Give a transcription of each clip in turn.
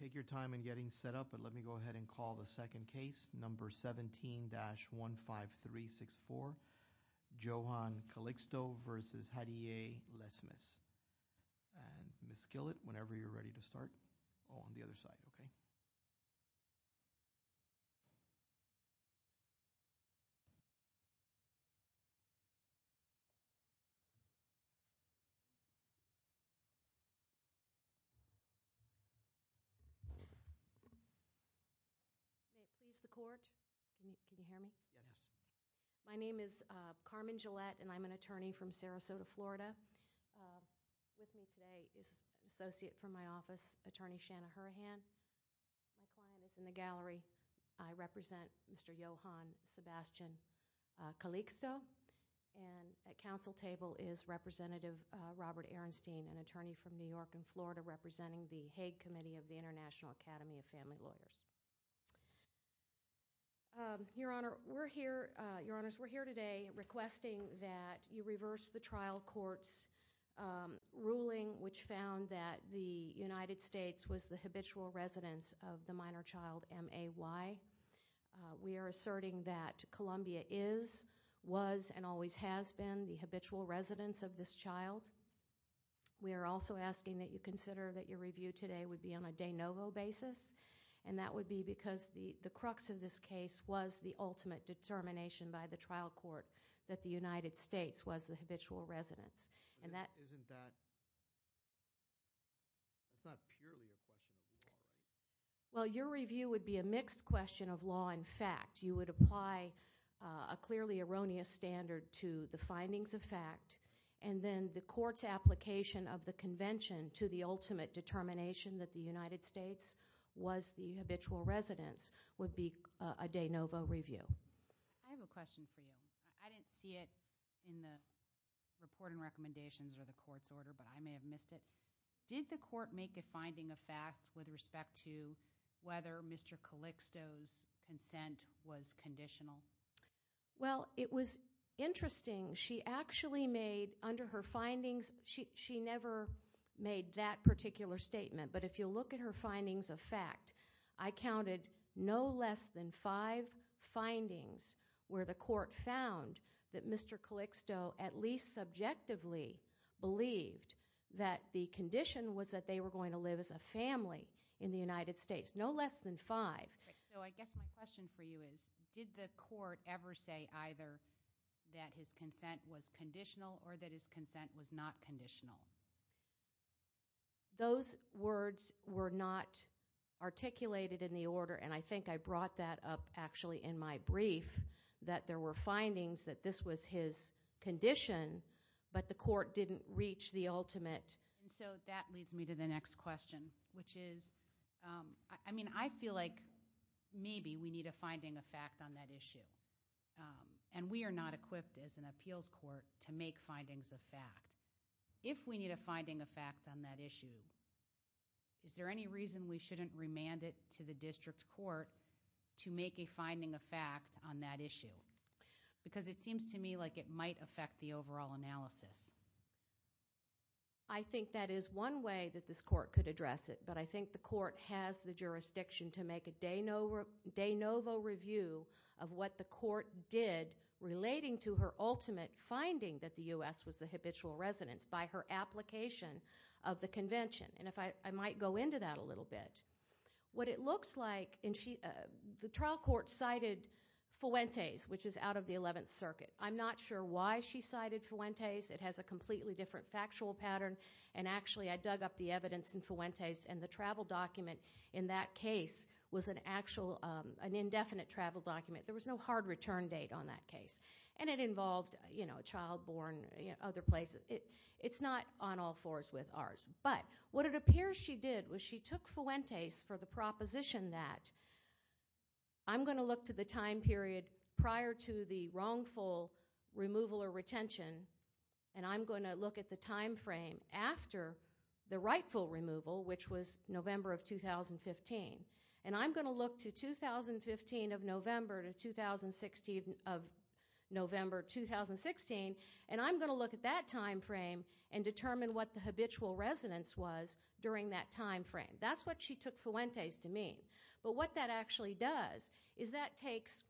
Take your time in getting set up, but let me go ahead and call the second case, number 17-15364. Johan Calixto v. Hadylle Lesmes. Ms. Skillett, whenever you're ready to start. Can you hear me? My name is Carmen Gillette, and I'm an attorney from Sarasota, Florida. With me today is an associate from my office, Attorney Shanna Hurrahan. My client is in the gallery. I represent Mr. Johan Sebastian Calixto, and at counsel table is Representative Robert Ehrenstein, an attorney from New York and Florida representing the Hague Committee of the International Academy of Family Lawyers. Your Honors, we're here today requesting that you reverse the trial court's ruling which found that the United States was the habitual residence of the minor child, M-A-Y. We are asserting that Columbia is, was, and always has been the habitual residence of this child. We are also asking that you consider that your review today would be on a de novo basis, and that would be because the crux of this case was the ultimate determination by the trial court that the United States was the habitual residence. Isn't that, it's not purely a question of law. Well, your review would be a mixed question of law and fact. You would apply a clearly erroneous standard to the findings of fact, and then the court's application of the convention to the ultimate determination that the United States was the habitual residence would be a de novo review. I have a question for you. I didn't see it in the report and recommendations or the court's order, but I may have missed it. Did the court make a finding of fact with respect to whether Mr. Calixto's consent was conditional? Well, it was interesting. She actually made, under her findings, she never made that particular statement, but if you look at her findings of fact, I counted no less than five findings where the court found that Mr. Calixto at least subjectively believed that the condition was that they were going to live as a family in the United States. No less than five. So I guess my question for you is, did the court ever say either that his consent was conditional or that his consent was not conditional? Those words were not articulated in the order, and I think I brought that up actually in my brief, that there were findings that this was his condition, but the court didn't reach the ultimate. So that leads me to the next question, which is, I mean, I feel like maybe we need a finding of fact on that issue, and we are not equipped as an appeals court to make findings of fact. If we need a finding of fact on that issue, is there any reason we shouldn't remand it to the district court to make a finding of fact on that issue? Because it seems to me like it might affect the overall analysis. I think that is one way that this court could address it, but I think the court has the jurisdiction to make a de novo review of what the court did relating to her ultimate finding that the U.S. was the habitual residence by her application of the convention, and if I might go into that a little bit, what it looks like, and the trial court cited Fuentes, which is out of the 11th Circuit. I'm not sure why she cited Fuentes. It has a completely different factual pattern, and actually I dug up the evidence in Fuentes, and the travel document in that case was an indefinite travel document. There was no hard return date on that case, and it involved a child born, other places. It's not on all fours with ours, but what it appears she did was she took Fuentes for the proposition that I'm going to look to the time period prior to the wrongful removal or retention, and I'm going to look at the time frame after the rightful removal, which was November of 2015, and I'm going to look to 2015 of November to 2016 of November 2016, and I'm going to look at that time frame and determine what the habitual residence was during that time frame. That's what she took Fuentes to mean, but what that actually does is that takes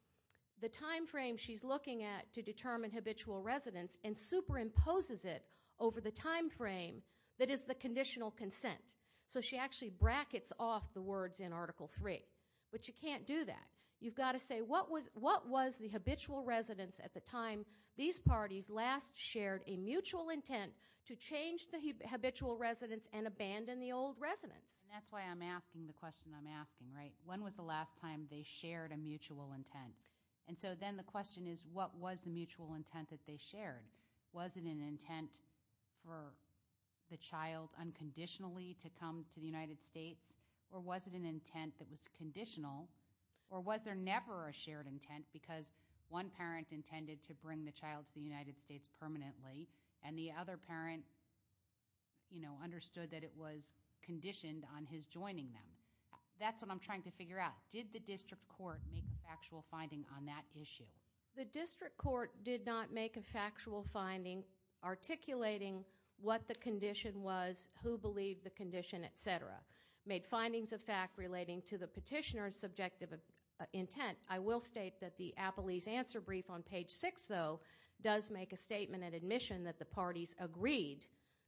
the time frame she's looking at to determine habitual residence and superimposes it over the time of dissent, so she actually brackets off the words in Article 3, but you can't do that. You've got to say, what was the habitual residence at the time these parties last shared a mutual intent to change the habitual residence and abandon the old residence? That's why I'm asking the question I'm asking, right? When was the last time they shared a mutual intent? And so then the question is, what was the mutual intent that they shared? Was it an intent for the child unconditionally to come to the United States, or was it an intent that was conditional, or was there never a shared intent because one parent intended to bring the child to the United States permanently, and the other parent, you know, understood that it was conditioned on his joining them? That's what I'm trying to figure out. Did the district court make a factual finding on that issue? The district court did not make a factual finding articulating what the condition was, who believed the condition, et cetera. Made findings of fact relating to the petitioner's subjective intent. I will state that the Appelese answer brief on page six, though, does make a statement and admission that the parties agreed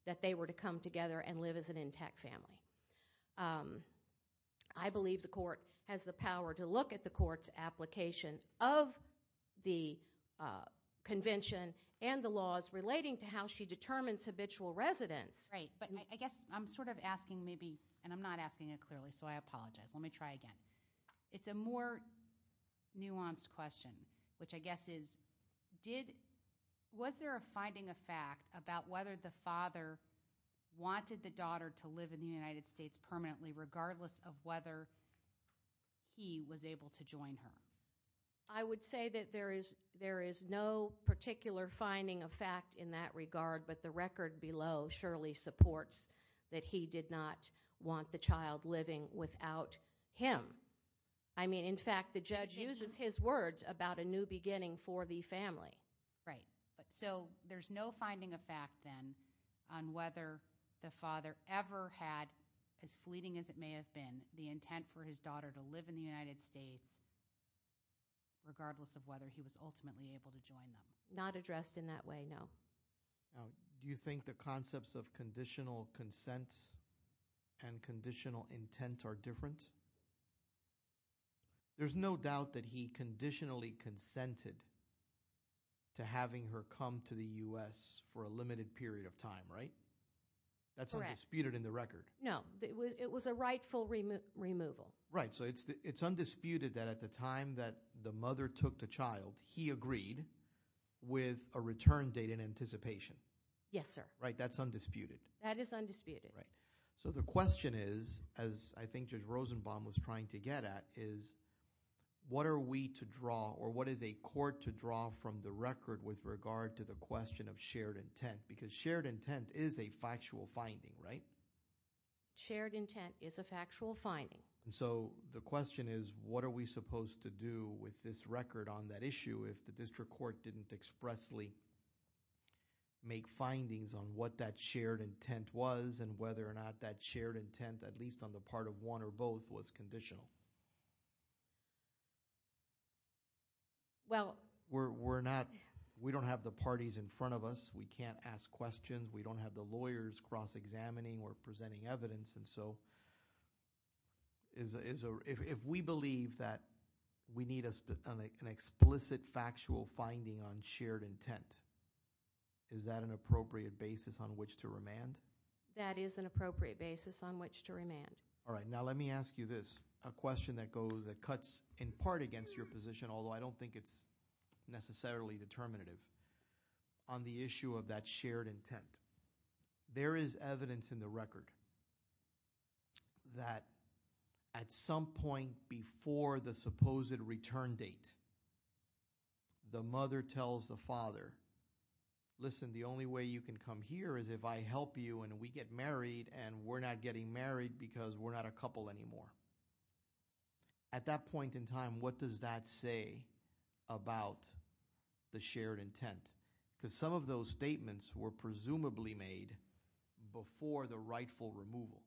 that they were to come together and live as an intact family. I believe the court has the power to look at the court's application of the convention and the laws relating to how she determines habitual residence. Right, but I guess I'm sort of asking maybe, and I'm not asking it clearly, so I apologize. Let me try again. It's a more nuanced question, which I guess is, did, was there a finding of fact about whether the father wanted the daughter to live in the United States permanently, regardless of whether he was able to join her? I would say that there is no particular finding of fact in that regard, but the record below surely supports that he did not want the child living without him. I mean, in fact, the judge uses his words about a new beginning for the family. Right, but so there's no finding of fact, then, on whether the father ever had, as fleeting as it may have been, the intent for his daughter to live in the United States, regardless of whether he was ultimately able to join them. Not addressed in that way, no. Do you think the concepts of conditional consent and conditional intent are different? Because there's no doubt that he conditionally consented to having her come to the US for a limited period of time, right? That's undisputed in the record. No, it was a rightful removal. Right, so it's undisputed that at the time that the mother took the child, he agreed with a return date in anticipation. Yes, sir. Right, that's undisputed. That is undisputed. Right, so the question is, as I think Judge Rosenbaum was trying to get at, is what are we to draw, or what is a court to draw from the record with regard to the question of shared intent? Because shared intent is a factual finding, right? Shared intent is a factual finding. So the question is, what are we supposed to do with this record on that issue if the district court didn't expressly make findings on what that shared intent was, and whether or not that shared intent, at least on the part of one or both, was conditional? Well- We're not, we don't have the parties in front of us. We can't ask questions. We don't have the lawyers cross-examining or presenting evidence. And so, if we believe that we need an explicit factual finding on shared intent. Is that an appropriate basis on which to remand? That is an appropriate basis on which to remand. All right, now let me ask you this, a question that cuts in part against your position, although I don't think it's necessarily determinative, on the issue of that shared intent. There is evidence in the record that at some point before the supposed return date, the mother tells the father, listen, the only way you can come here is if I help you and we get married, and we're not getting married because we're not a couple anymore. At that point in time, what does that say about the shared intent? Because some of those statements were presumably made before the rightful removal.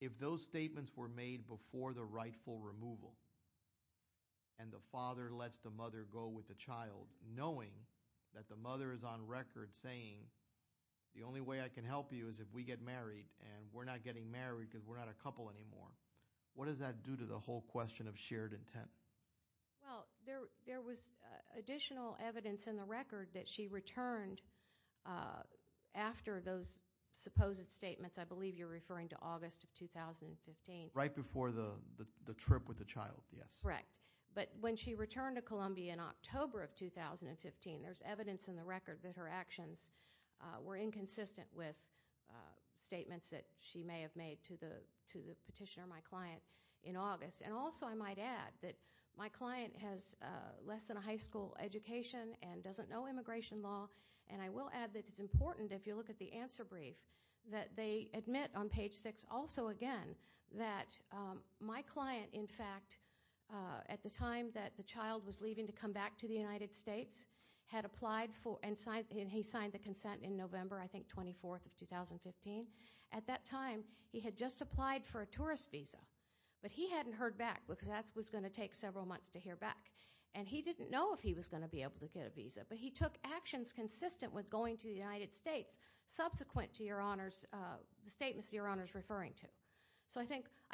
If those statements were made before the rightful removal, and the father lets the mother go with the child, knowing that the mother is on record saying, the only way I can help you is if we get married, and we're not getting married because we're not a couple anymore, what does that do to the whole question of shared intent? Well, there was additional evidence in the record that she returned after those supposed statements. I believe you're referring to August of 2015. Right before the trip with the child, yes. Correct. But when she returned to Columbia in October of 2015, there's evidence in the record that her actions were inconsistent with statements that she may have made to the petitioner, my client, in August. And also, I might add that my client has less than a high school education and doesn't know immigration law. And I will add that it's important, if you look at the answer brief, that they admit on page six also again, that my client, in fact, at the time that the child was leaving to come back to the United States, had applied for, and he signed the consent in November, I think, 24th of 2015. At that time, he had just applied for a tourist visa. But he hadn't heard back, because that was going to take several months to hear back. And he didn't know if he was going to be able to get a visa. But he took actions consistent with going to the United States, subsequent to the statements your Honor's referring to. So I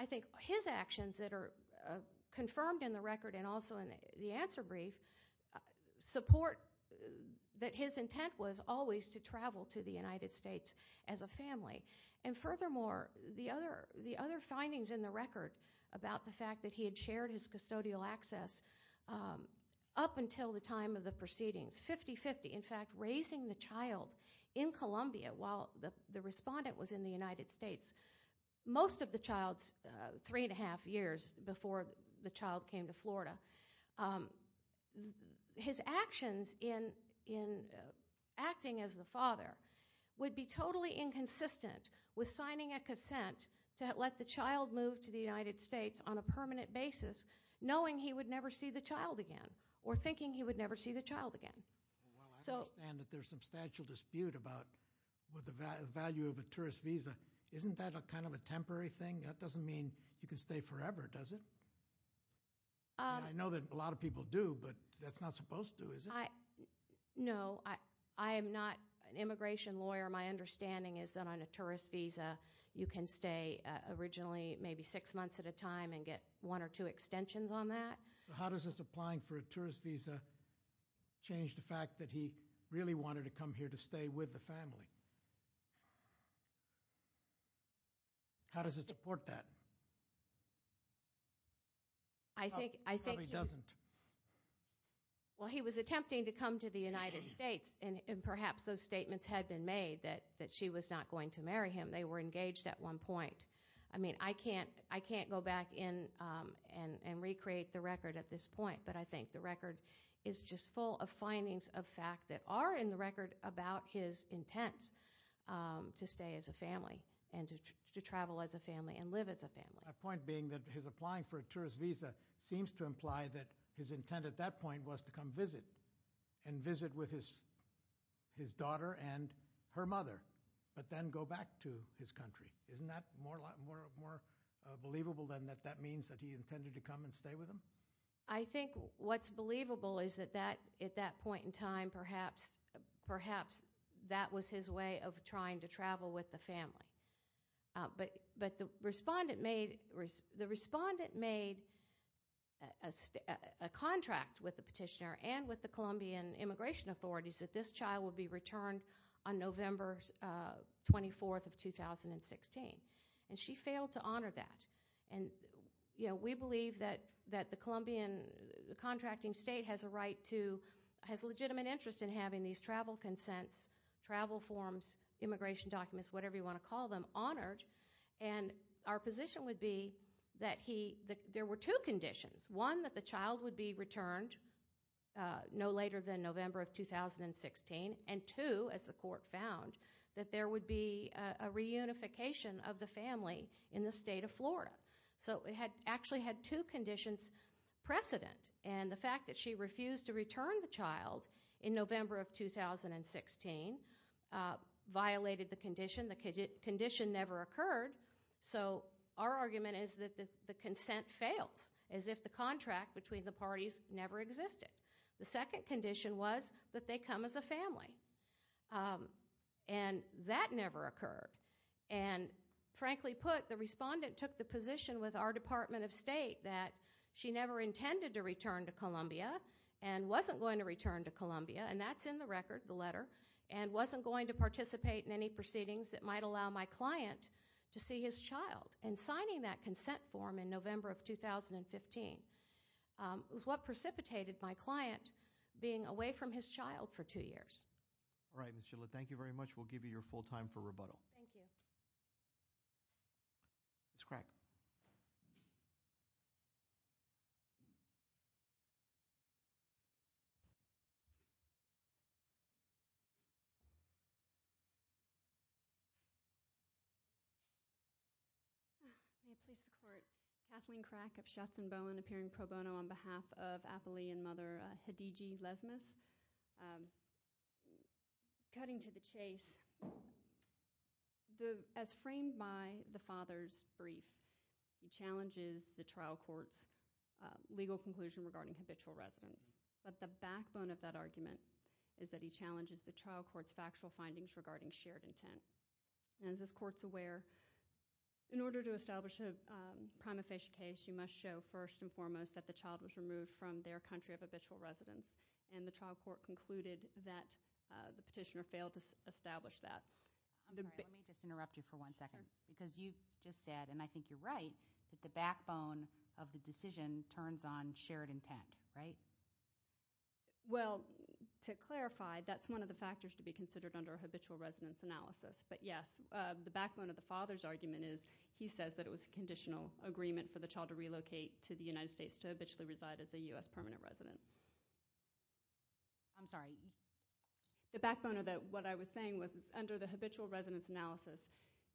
think his actions that are confirmed in the record and also in the answer brief, support that his intent was always to travel to the United States as a family. And furthermore, the other findings in the record about the fact that he had shared his custodial access up until the time of the proceedings, 50-50, in fact, raising the child in Columbia while the respondent was in the United States. Most of the child's three and a half years before the child came to Florida, his actions in acting as the father would be totally inconsistent with signing a consent to let the child move to the United States on a permanent basis knowing he would never see the child again. Or thinking he would never see the child again. So- Well, I understand that there's substantial dispute about the value of a tourist visa. Isn't that a kind of a temporary thing? That doesn't mean you can stay forever, does it? I know that a lot of people do, but that's not supposed to, is it? No, I am not an immigration lawyer. My understanding is that on a tourist visa, you can stay originally maybe six months at a time and get one or two extensions on that. So how does this applying for a tourist visa change the fact that he really wanted to come here to stay with the family? How does it support that? I think he- Probably doesn't. Well, he was attempting to come to the United States, and perhaps those statements had been made that she was not going to marry him. They were engaged at one point. I mean, I can't go back in and recreate the record at this point. But I think the record is just full of findings of fact that are in the record about his intent to stay as a family and to travel as a family and live as a family. My point being that his applying for a tourist visa seems to imply that his intent at that point was to come visit and visit with his daughter and her mother, but then go back to his country. Isn't that more believable than that that means that he intended to come and stay with them? I think what's believable is that at that point in time, perhaps that was his way of trying to travel with the family. But the respondent made a contract with the petitioner and with the Colombian immigration authorities that this child would be returned on November 24th of 2016, and she failed to honor that. And we believe that the Colombian contracting state has a legitimate interest in having these travel consents, travel forms, immigration documents, whatever you want to call them, honored. And our position would be that there were two conditions. One, that the child would be returned no later than November of 2016. And two, as the court found, that there would be a reunification of the family in the state of Florida. So it actually had two conditions precedent. And the fact that she refused to return the child in November of 2016 violated the condition. The condition never occurred. So our argument is that the consent fails, as if the contract between the parties never existed. The second condition was that they come as a family, and that never occurred. And frankly put, the respondent took the position with our Department of State that she never intended to return to Columbia and wasn't going to return to Columbia. And that's in the record, the letter. And wasn't going to participate in any proceedings that might allow my client to see his child. And signing that consent form in November of 2015 was what precipitated my client being away from his child for two years. All right, Ms. Shilla, thank you very much. We'll give you your full time for rebuttal. Thank you. Ms. Crack. Please support Kathleen Crack of Shots and Bowen appearing pro bono on behalf of Appalachian mother Hedigi Lesmeth. Cutting to the chase, as framed by the father's brief, he challenges the trial court's legal conclusion regarding habitual residence. But the backbone of that argument is that he challenges the trial court's factual findings regarding shared intent. And as this court's aware, in order to establish a prima facie case, you must show first and foremost that the child was removed from their country of habitual residence. And the trial court concluded that the petitioner failed to establish that. I'm sorry, let me just interrupt you for one second. Because you just said, and I think you're right, that the backbone of the decision turns on shared intent, right? Well, to clarify, that's one of the factors to be considered under a habitual residence analysis. But yes, the backbone of the father's argument is, he says that it was a conditional agreement for the child to relocate to the United States to habitually reside as a US permanent resident. I'm sorry. The backbone of that, what I was saying was, is under the habitual residence analysis,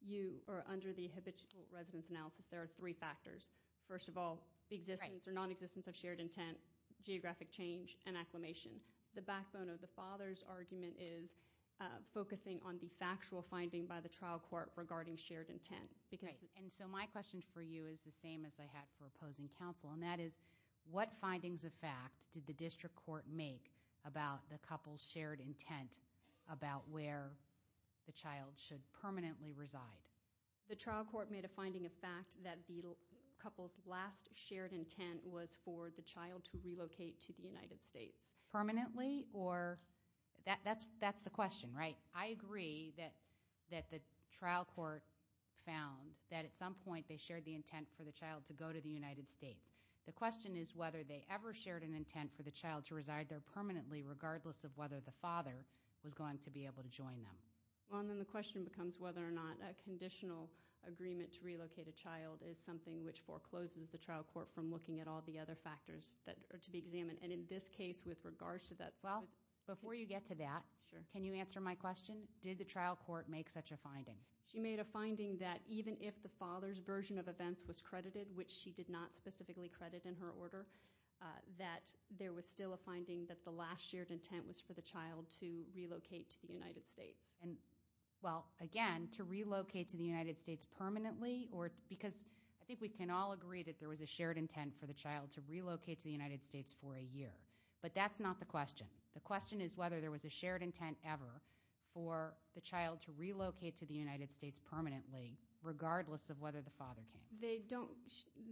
you are under the habitual residence analysis, there are three factors. First of all, the existence or nonexistence of shared intent, geographic change, and acclimation. The backbone of the father's argument is focusing on the factual finding by the trial court regarding shared intent. And so my question for you is the same as I had for opposing counsel. And that is, what findings of fact did the district court make about the couple's shared intent about where the child should permanently reside? The trial court made a finding of fact that the couple's last shared intent was for the child to relocate to the United States. Permanently or, that's the question, right? I agree that the trial court found that at some point they shared the intent for the child to go to the United States. The question is whether they ever shared an intent for the child to reside there permanently, regardless of whether the father was going to be able to join them. Well, and then the question becomes whether or not a conditional agreement to relocate a child is something which forecloses the trial court from looking at all the other factors that are to be examined. And in this case, with regards to that- Well, before you get to that, can you answer my question? Did the trial court make such a finding? She made a finding that even if the father's version of events was credited, which she did not specifically credit in her order, that there was still a finding that the last shared intent was for the child to relocate to the United States. And, well, again, to relocate to the United States permanently or, because I think we can all agree that there was a shared intent for the child to relocate to the United States for a year. But that's not the question. The question is whether there was a shared intent ever for the child to relocate to the United States permanently, regardless of whether the father came. They don't,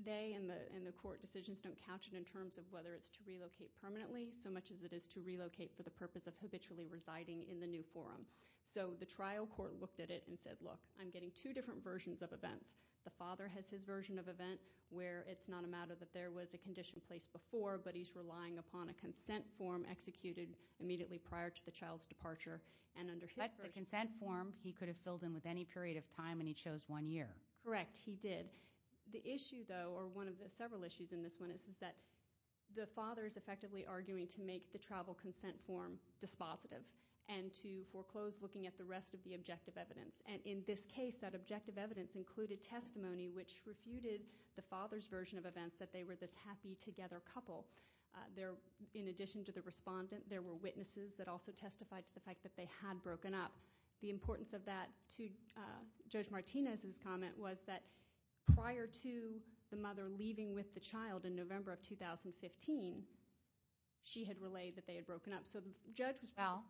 they and the court decisions don't count it in terms of whether it's to relocate permanently, so much as it is to relocate for the purpose of habitually residing in the new forum. So the trial court looked at it and said, look, I'm getting two different versions of events. The father has his version of event where it's not a matter that there was a condition placed before, but he's relying upon a consent form executed immediately prior to the child's departure. And under his version- But the consent form, he could have filled in with any period of time, and he chose one year. Correct, he did. The issue, though, or one of the several issues in this one is that the father is effectively arguing to make the travel consent form dispositive. And to foreclose looking at the rest of the objective evidence. And in this case, that objective evidence included testimony which refuted the father's version of events, that they were this happy together couple. There, in addition to the respondent, there were witnesses that also testified to the fact that they had broken up. The importance of that to Judge Martinez's comment was that prior to the mother leaving with the child in November of 2015, she had relayed that they had broken up. So the judge was- Well,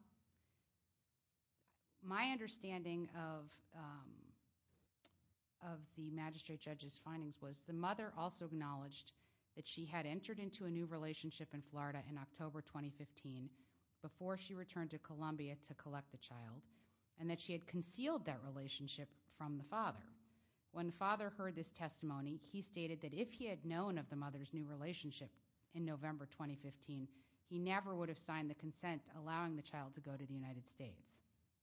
my understanding of the magistrate judge's findings was the mother also acknowledged that she had entered into a new relationship in Florida in October 2015 before she returned to Columbia to collect the child. And that she had concealed that relationship from the father. When the father heard this testimony, he stated that if he had known of the mother's new relationship in November 2015, he never would have signed the consent allowing the child to go to the United States.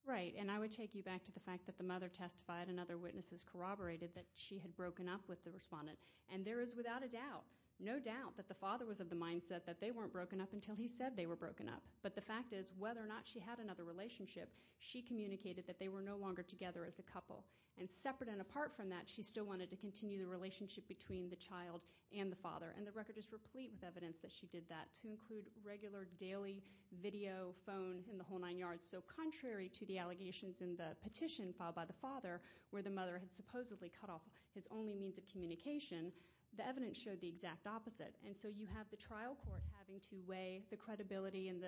Right, and I would take you back to the fact that the mother testified and other witnesses corroborated that she had broken up with the respondent. And there is without a doubt, no doubt, that the father was of the mindset that they weren't broken up until he said they were broken up. But the fact is, whether or not she had another relationship, she communicated that they were no longer together as a couple. And separate and apart from that, she still wanted to continue the relationship between the child and the father. And the record is replete with evidence that she did that to include regular daily video phone in the whole nine yards. So contrary to the allegations in the petition filed by the father, where the mother had supposedly cut off his only means of communication, the evidence showed the exact opposite. And so you have the trial court having to weigh the credibility and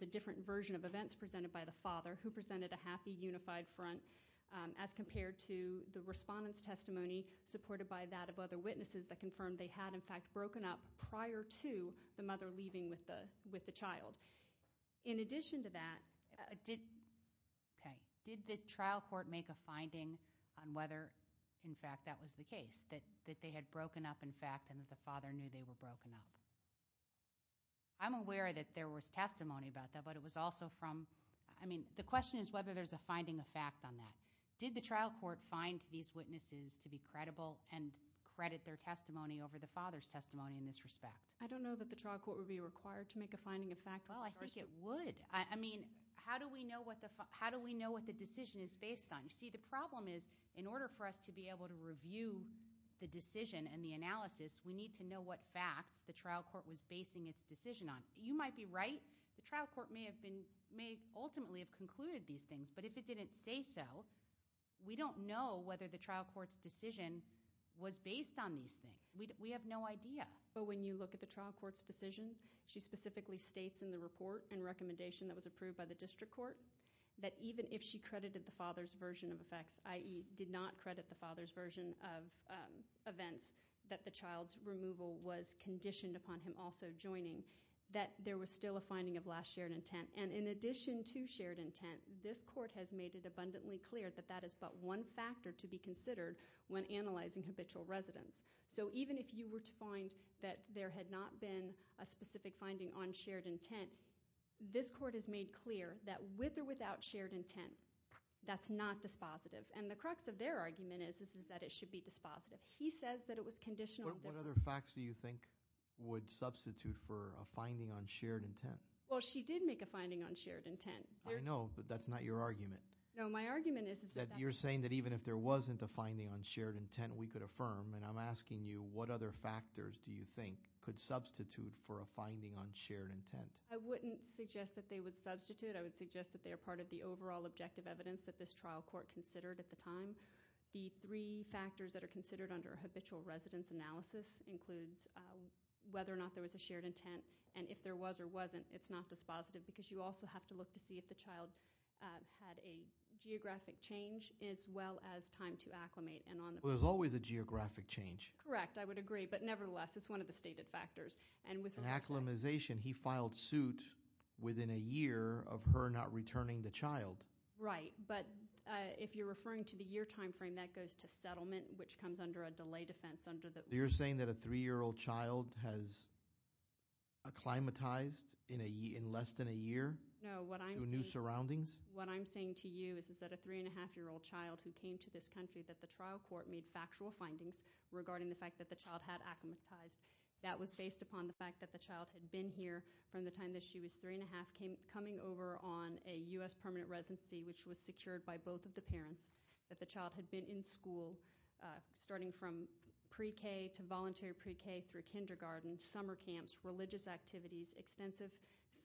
the different version of events presented by the father who presented a happy unified front. As compared to the respondent's testimony supported by that of other witnesses that confirmed they had in fact broken up prior to the mother leaving with the child. In addition to that, did the trial court make a finding on whether, in fact, that was the case, that they had broken up, in fact, and that the father knew they were broken up? I'm aware that there was testimony about that, but it was also from, I mean, the question is whether there's a finding of fact on that. Did the trial court find these witnesses to be credible and credit their testimony over the father's testimony in this respect? I don't know that the trial court would be required to make a finding of fact. Well, I think it would. I mean, how do we know what the decision is based on? You see, the problem is, in order for us to be able to review the decision and the analysis, we need to know what facts the trial court was basing its decision on. You might be right, the trial court may ultimately have concluded these things, but if it didn't say so, we don't know whether the trial court's decision was based on these things. We have no idea. But when you look at the trial court's decision, she specifically states in the report and recommendation that was approved by the district court that even if she credited the father's version of effects, i.e. did not credit the father's version of events that the child's removal was conditioned upon him also joining, that there was still a finding of last shared intent, and in addition to shared intent, this court has made it abundantly clear that that is but one factor to be considered when analyzing habitual residence. So even if you were to find that there had not been a specific finding on shared intent, this court has made clear that with or without shared intent, that's not dispositive. And the crux of their argument is that it should be dispositive. He says that it was conditional. What other facts do you think would substitute for a finding on shared intent? Well, she did make a finding on shared intent. I know, but that's not your argument. No, my argument is that- That you're saying that even if there wasn't a finding on shared intent, we could affirm. And I'm asking you, what other factors do you think could substitute for a finding on shared intent? I wouldn't suggest that they would substitute. I would suggest that they are part of the overall objective evidence that this trial court considered at the time. The three factors that are considered under habitual residence analysis includes whether or not there was a shared intent. And if there was or wasn't, it's not dispositive because you also have to look to see if the child had a geographic change as well as time to acclimate and on the- Well, there's always a geographic change. Correct, I would agree. But nevertheless, it's one of the stated factors. And with- Acclimatization, he filed suit within a year of her not returning the child. Right, but if you're referring to the year time frame, that goes to settlement, which comes under a delay defense under the- You're saying that a three year old child has acclimatized in less than a year to new surroundings? What I'm saying to you is that a three and a half year old child who came to this country, that the trial court made factual findings regarding the fact that the child had acclimatized. That was based upon the fact that the child had been here from the time that she was three and a half years of age, which was secured by both of the parents, that the child had been in school, starting from pre-K to voluntary pre-K through kindergarten, summer camps, religious activities, extensive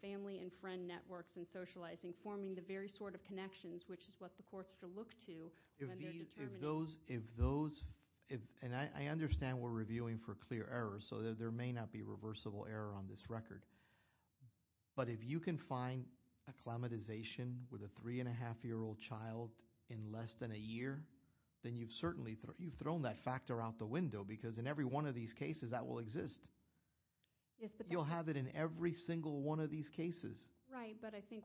family and friend networks and socializing, forming the very sort of connections, which is what the courts should look to when they're determining- If those, and I understand we're reviewing for clear errors, so there may not be reversible error on this record. But if you can find acclimatization with a three and a half year old child in less than a year, then you've certainly thrown that factor out the window, because in every one of these cases that will exist. You'll have it in every single one of these cases. Right, but I think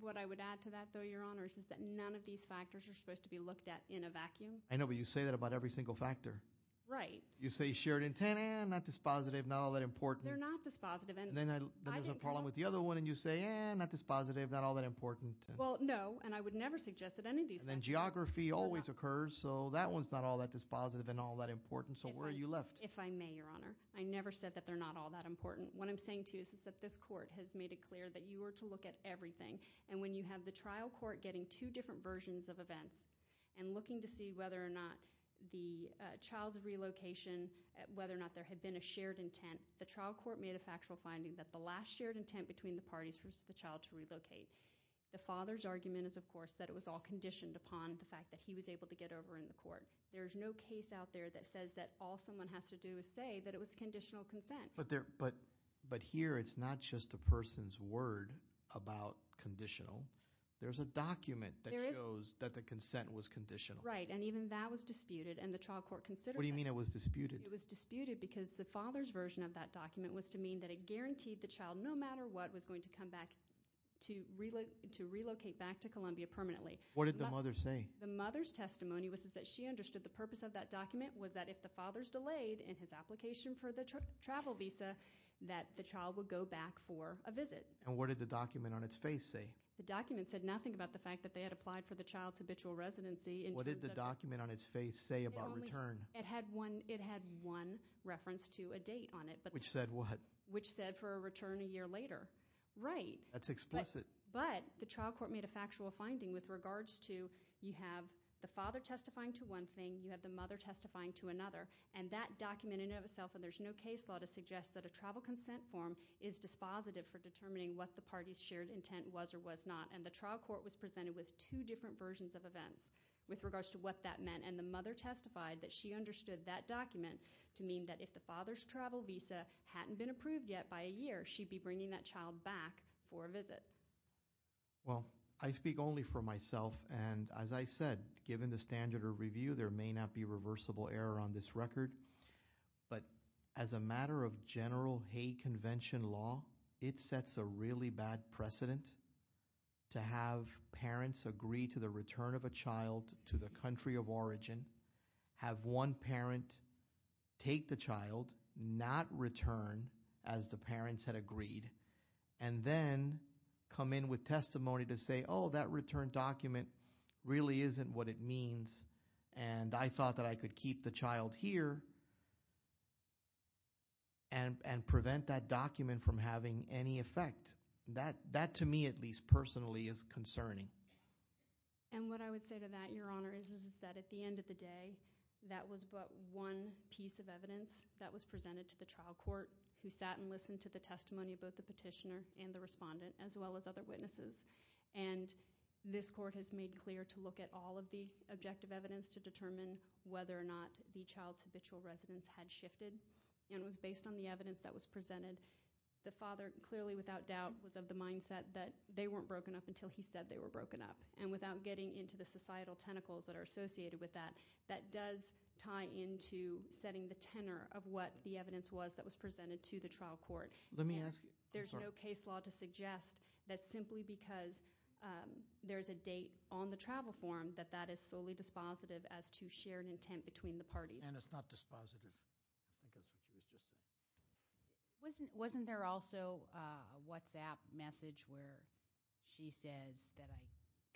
what I would add to that though, your honor, is that none of these factors are supposed to be looked at in a vacuum. I know, but you say that about every single factor. Right. You say shared intent, not dispositive, not all that important. They're not dispositive. And then there's a problem with the other one, and you say, eh, not dispositive, not all that important. Well, no, and I would never suggest that any of these- And then geography always occurs, so that one's not all that dispositive and all that important, so where are you left? If I may, your honor, I never said that they're not all that important. What I'm saying to you is that this court has made it clear that you are to look at everything. And when you have the trial court getting two different versions of events and looking to see whether or not the child's relocation, whether or not there had been a shared intent. The trial court made a factual finding that the last shared intent between the parties was for the child to relocate. The father's argument is, of course, that it was all conditioned upon the fact that he was able to get over in the court. There's no case out there that says that all someone has to do is say that it was conditional consent. But here, it's not just a person's word about conditional. There's a document that shows that the consent was conditional. Right, and even that was disputed, and the trial court considered that. What do you mean it was disputed? It was disputed because the father's version of that document was to mean that it guaranteed the child, no matter what, was going to come back to relocate back to Columbia permanently. What did the mother say? The mother's testimony was that she understood the purpose of that document was that if the father's delayed in his application for the travel visa, that the child would go back for a visit. And what did the document on its face say? The document said nothing about the fact that they had applied for the child's habitual residency. What did the document on its face say about return? It had one reference to a date on it. Which said what? Which said for a return a year later. Right. That's explicit. But the trial court made a factual finding with regards to, you have the father testifying to one thing, you have the mother testifying to another. And that document in and of itself, and there's no case law to suggest that a travel consent form is dispositive for determining what the party's shared intent was or was not. And the trial court was presented with two different versions of events with regards to what that meant. And the mother testified that she understood that document to mean that if the father's travel visa hadn't been approved yet by a year, she'd be bringing that child back for a visit. Well, I speak only for myself, and as I said, given the standard of review, there may not be reversible error on this record. But as a matter of general Hague Convention law, it sets a really bad precedent To have parents agree to the return of a child to the country of origin. Have one parent take the child, not return, as the parents had agreed. And then come in with testimony to say, that return document really isn't what it means. And I thought that I could keep the child here, and prevent that document from having any effect. That, to me at least, personally is concerning. And what I would say to that, your honor, is that at the end of the day, that was but one piece of evidence that was presented to the trial court, who sat and listened to the testimony of both the petitioner and the respondent, as well as other witnesses. And this court has made clear to look at all of the objective evidence to determine whether or not the child's habitual residence had shifted, and was based on the evidence that was presented. The father, clearly without doubt, was of the mindset that they weren't broken up until he said they were broken up. And without getting into the societal tentacles that are associated with that, that does tie into setting the tenor of what the evidence was that was presented to the trial court. And there's no case law to suggest that simply because there's a date on the travel form, that that is solely dispositive as to shared intent between the parties. And it's not dispositive. I think that's what she was just saying. Wasn't there also a WhatsApp message where she says that I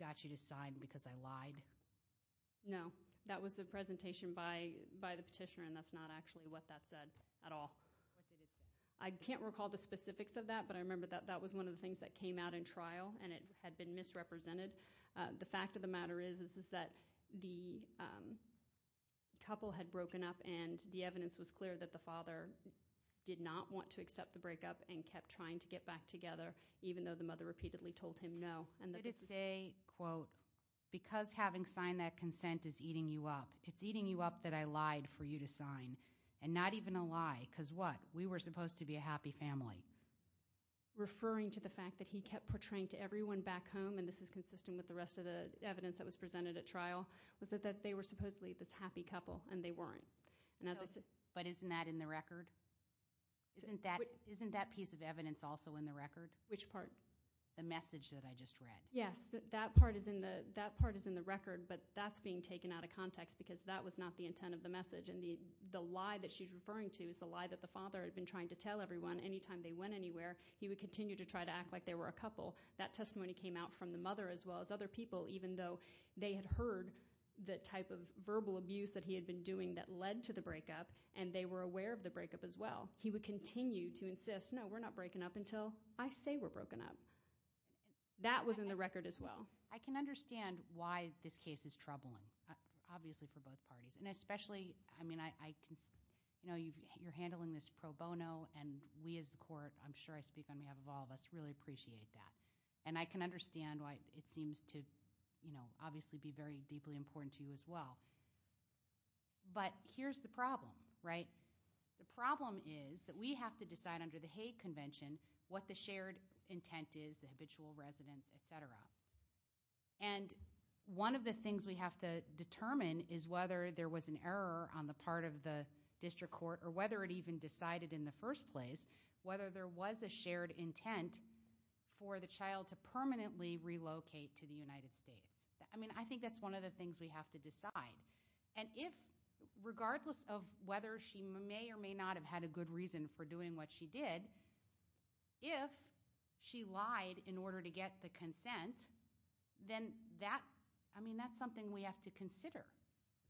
got you to sign because I lied? No, that was the presentation by the petitioner, and that's not actually what that said at all. I can't recall the specifics of that, but I remember that that was one of the things that came out in trial, and it had been misrepresented. The fact of the matter is, is that the couple had broken up, and the evidence was clear that the father did not want to accept the breakup, and kept trying to get back together, even though the mother repeatedly told him no. And that it's a, quote, because having signed that consent is eating you up. It's eating you up that I lied for you to sign. And not even a lie, because what? We were supposed to be a happy family. Referring to the fact that he kept portraying to everyone back home, and this is consistent with the rest of the evidence that was presented at trial, was that they were supposedly this happy couple, and they weren't. And as I said- But isn't that in the record? Isn't that piece of evidence also in the record? Which part? The message that I just read. Yes, that part is in the record, but that's being taken out of context because that was not the intent of the message. And the lie that she's referring to is the lie that the father had been trying to tell everyone. Anytime they went anywhere, he would continue to try to act like they were a couple. That testimony came out from the mother as well as other people, even though they had heard the type of verbal abuse that he had been doing that led to the breakup, and they were aware of the breakup as well. He would continue to insist, no, we're not breaking up until I say we're broken up. That was in the record as well. I can understand why this case is troubling, obviously for both parties. And especially, I mean, you're handling this pro bono and we as a court, I'm sure I speak on behalf of all of us, really appreciate that. And I can understand why it seems to obviously be very deeply important to you as well. But here's the problem, right? The problem is that we have to decide under the Hague Convention what the shared intent is, the habitual residence, etc. And one of the things we have to determine is whether there was an error on the part of the district court, or whether it even decided in the first place, whether there was a shared intent for the child to permanently relocate to the United States. I mean, I think that's one of the things we have to decide. And if, regardless of whether she may or may not have had a good reason for Then that, I mean, that's something we have to consider,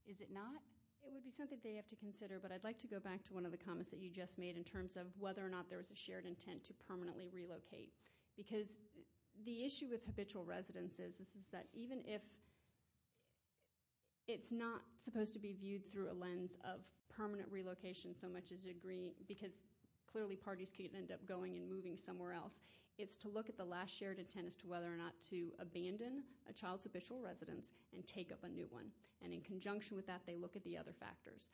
is it not? It would be something they have to consider. But I'd like to go back to one of the comments that you just made in terms of whether or not there was a shared intent to permanently relocate. Because the issue with habitual residences is that even if it's not supposed to be viewed through a lens of permanent relocation so much as agreeing, because clearly parties can end up going and moving somewhere else. It's to look at the last shared intent as to whether or not to abandon a child's habitual residence and take up a new one. And in conjunction with that, they look at the other factors.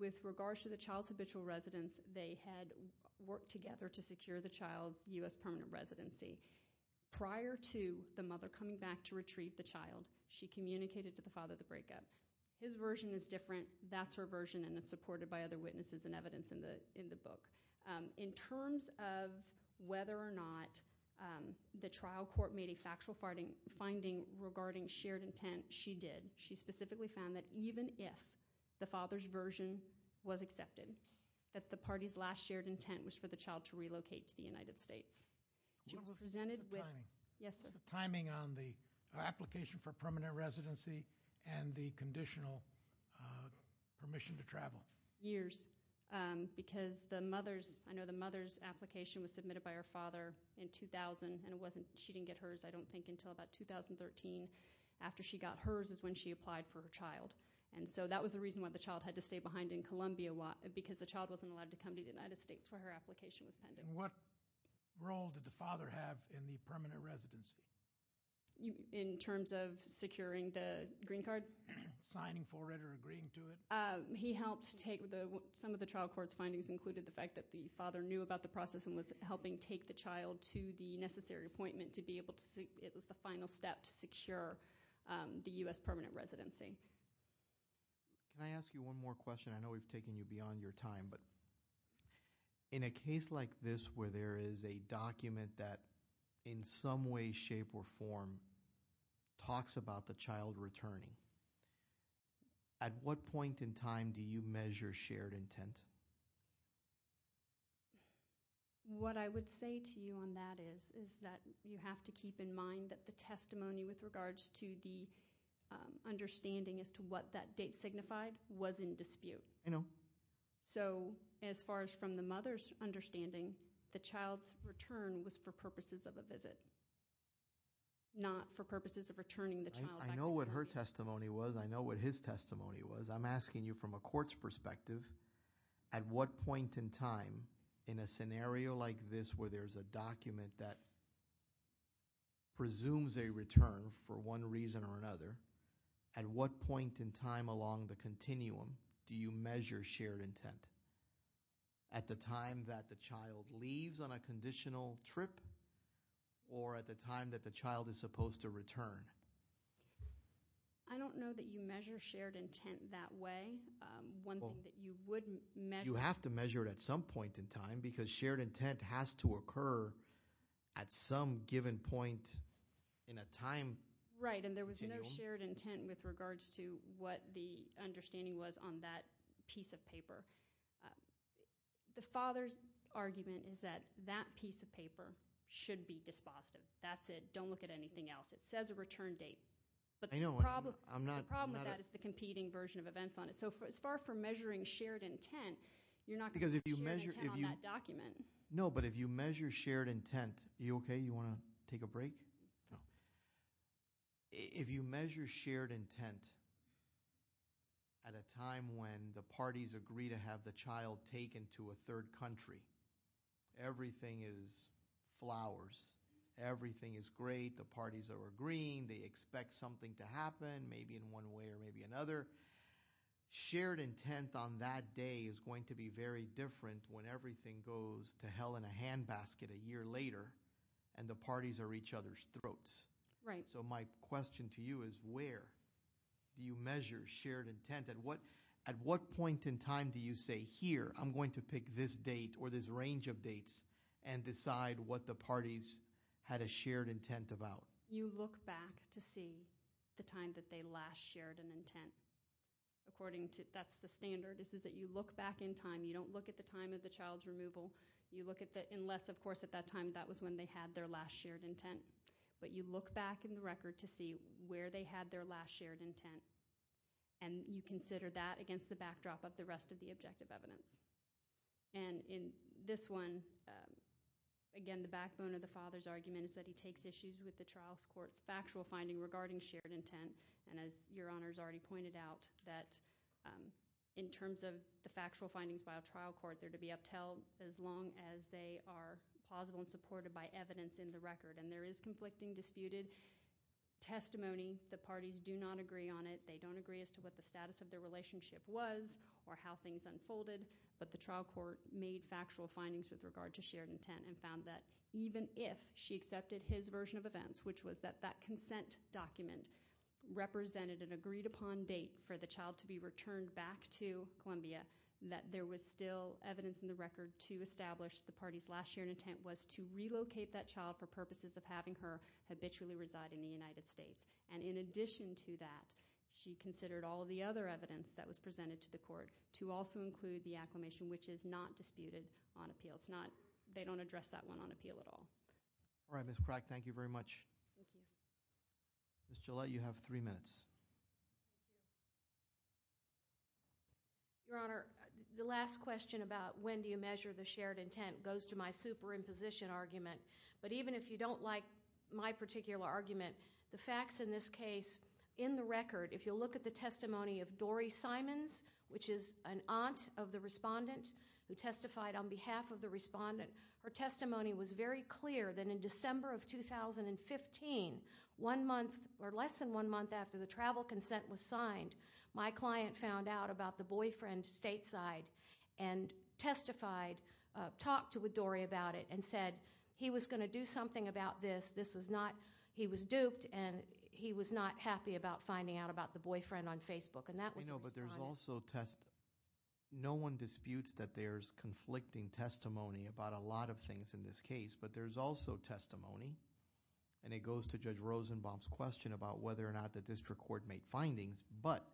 With regards to the child's habitual residence, they had worked together to secure the child's US permanent residency. Prior to the mother coming back to retrieve the child, she communicated to the father the breakup. His version is different, that's her version, and it's supported by other witnesses and evidence in the book. In terms of whether or not the trial court made a factual finding regarding shared intent, she did. She specifically found that even if the father's version was accepted, that the party's last shared intent was for the child to relocate to the United States. She presented with- What was the timing? Yes, sir. The timing on the application for permanent residency and the conditional permission to travel. Years, because I know the mother's application was submitted by her father in 2000, and she didn't get hers, I don't think, until about 2013 after she got hers is when she applied for her child. And so that was the reason why the child had to stay behind in Columbia, because the child wasn't allowed to come to the United States where her application was pending. What role did the father have in the permanent residency? In terms of securing the green card? Signing for it or agreeing to it? He helped take the, some of the trial court's findings included the fact that the father knew about the process and was helping take the child to the necessary appointment to be able to, it was the final step to secure the US permanent residency. Can I ask you one more question? I know we've taken you beyond your time, but in a case like this where there is a document that in some way, shape, or form talks about the child returning, at what point in time do you measure shared intent? What I would say to you on that is that you have to keep in mind that the testimony with regards to the understanding as to what that date signified was in dispute. I know. So, as far as from the mother's understanding, the child's return was for purposes of a visit. Not for purposes of returning the child back to Columbia. I know what her testimony was, I know what his testimony was. I'm asking you from a court's perspective, at what point in time in a scenario like this, where there's a document that presumes a return for one reason or another. At what point in time along the continuum do you measure shared intent? At the time that the child leaves on a conditional trip, or at the time that the child is supposed to return? I don't know that you measure shared intent that way. One thing that you would measure- You have to measure it at some point in time, because shared intent has to occur at some given point in a time- Right, and there was no shared intent with regards to what the understanding was on that piece of paper. The father's argument is that that piece of paper should be dispositive. That's it. Don't look at anything else. It says a return date. But the problem with that is the competing version of events on it. So as far as for measuring shared intent, you're not going to measure shared intent on that document. No, but if you measure shared intent, are you okay? You want to take a break? If you measure shared intent at a time when the parties agree to have the child taken to a third country, everything is flowers, everything is great, the parties are agreeing, they expect something to happen, maybe in one way or maybe another. Shared intent on that day is going to be very different when everything goes to hell in a hand basket a year later. And the parties are each other's throats. Right. So my question to you is where do you measure shared intent? At what point in time do you say, here, I'm going to pick this date or this range of dates and decide what the parties had a shared intent about? You look back to see the time that they last shared an intent according to, that's the standard. This is that you look back in time. You don't look at the time of the child's removal. You look at the, unless, of course, at that time, that was when they had their last shared intent. But you look back in the record to see where they had their last shared intent. And you consider that against the backdrop of the rest of the objective evidence. And in this one, again, the backbone of the father's argument is that he takes issues with the trial's court's factual finding regarding shared intent. And as your honors already pointed out, that in terms of the factual findings by a trial court, they're to be upheld as long as they are plausible and supported by evidence in the record. And there is conflicting, disputed testimony. The parties do not agree on it. They don't agree as to what the status of their relationship was or how things unfolded. But the trial court made factual findings with regard to shared intent and found that even if she accepted his version of events, which was that that consent document represented an agreed upon date for the child to be returned back to Columbia, that there was still evidence in the record to establish the party's last shared intent was to relocate that child for purposes of having her habitually reside in the United States. And in addition to that, she considered all of the other evidence that was presented to the court to also include the acclimation, which is not disputed on appeal, it's not, they don't address that one on appeal at all. All right, Ms. Crack, thank you very much. Thank you. Ms. Gillette, you have three minutes. Your Honor, the last question about when do you measure the shared intent goes to my superimposition argument. But even if you don't like my particular argument, the facts in this case, in the record, if you'll look at the testimony of Dori Simons, which is an aunt of the respondent, who testified on behalf of the respondent, her testimony was very clear that in December of 2015, one month, or less than one month after the travel consent was signed, my client found out about the boyfriend stateside. And testified, talked to Dori about it, and said he was going to do something about this. This was not, he was duped, and he was not happy about finding out about the boyfriend on Facebook. And that was- You know, but there's also, no one disputes that there's conflicting testimony about a lot of things in this case. But there's also testimony, and it goes to Judge Rosenbaum's question about whether or not the district court made findings. But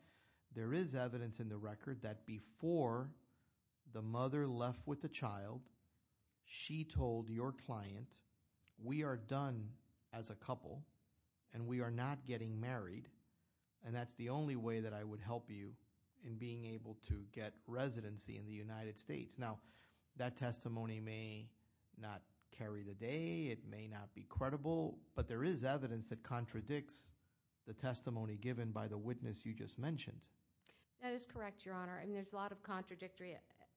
there is evidence in the record that before the mother left with the child, she told your client, we are done as a couple, and we are not getting married. And that's the only way that I would help you in being able to get residency in the United States. Now, that testimony may not carry the day, it may not be credible, but there is evidence that contradicts the testimony given by the witness you just mentioned. That is correct, your honor. And there's a lot of contradictory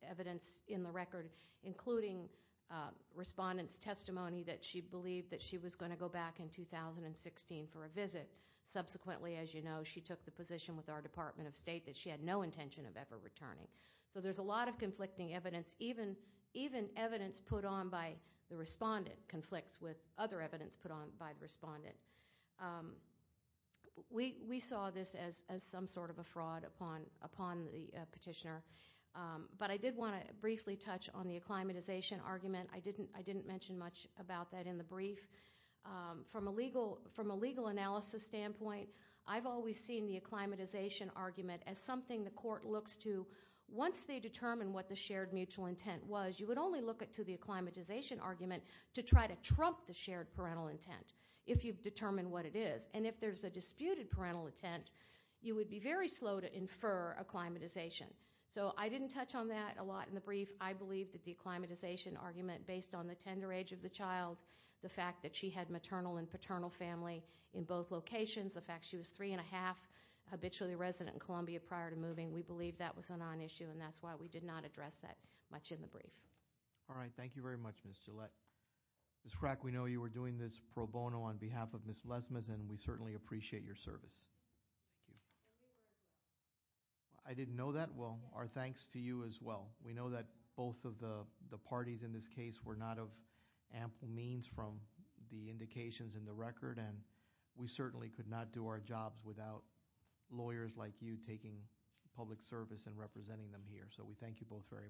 evidence in the record, including respondent's testimony that she believed that she was going to go back in 2016 for a visit. Subsequently, as you know, she took the position with our Department of State that she had no intention of ever returning. So there's a lot of conflicting evidence, even evidence put on by the respondent that conflicts with other evidence put on by the respondent. We saw this as some sort of a fraud upon the petitioner. But I did want to briefly touch on the acclimatization argument. I didn't mention much about that in the brief. From a legal analysis standpoint, I've always seen the acclimatization argument as something the court looks to. Once they determine what the shared mutual intent was, you would only look to the acclimatization argument to try to trump the shared parental intent if you've determined what it is. And if there's a disputed parental intent, you would be very slow to infer acclimatization. So I didn't touch on that a lot in the brief. I believe that the acclimatization argument based on the tender age of the child, the fact that she had maternal and paternal family in both locations, the fact she was three and a half habitually resident in Columbia prior to moving, we believe that was a non-issue. All right, thank you very much, Ms. Gillette. Ms. Frack, we know you were doing this pro bono on behalf of Ms. Lesmas, and we certainly appreciate your service. I didn't know that? Well, our thanks to you as well. We know that both of the parties in this case were not of ample means from the indications in the record. And we certainly could not do our jobs without lawyers like you taking public service and representing them here. So we thank you both very much.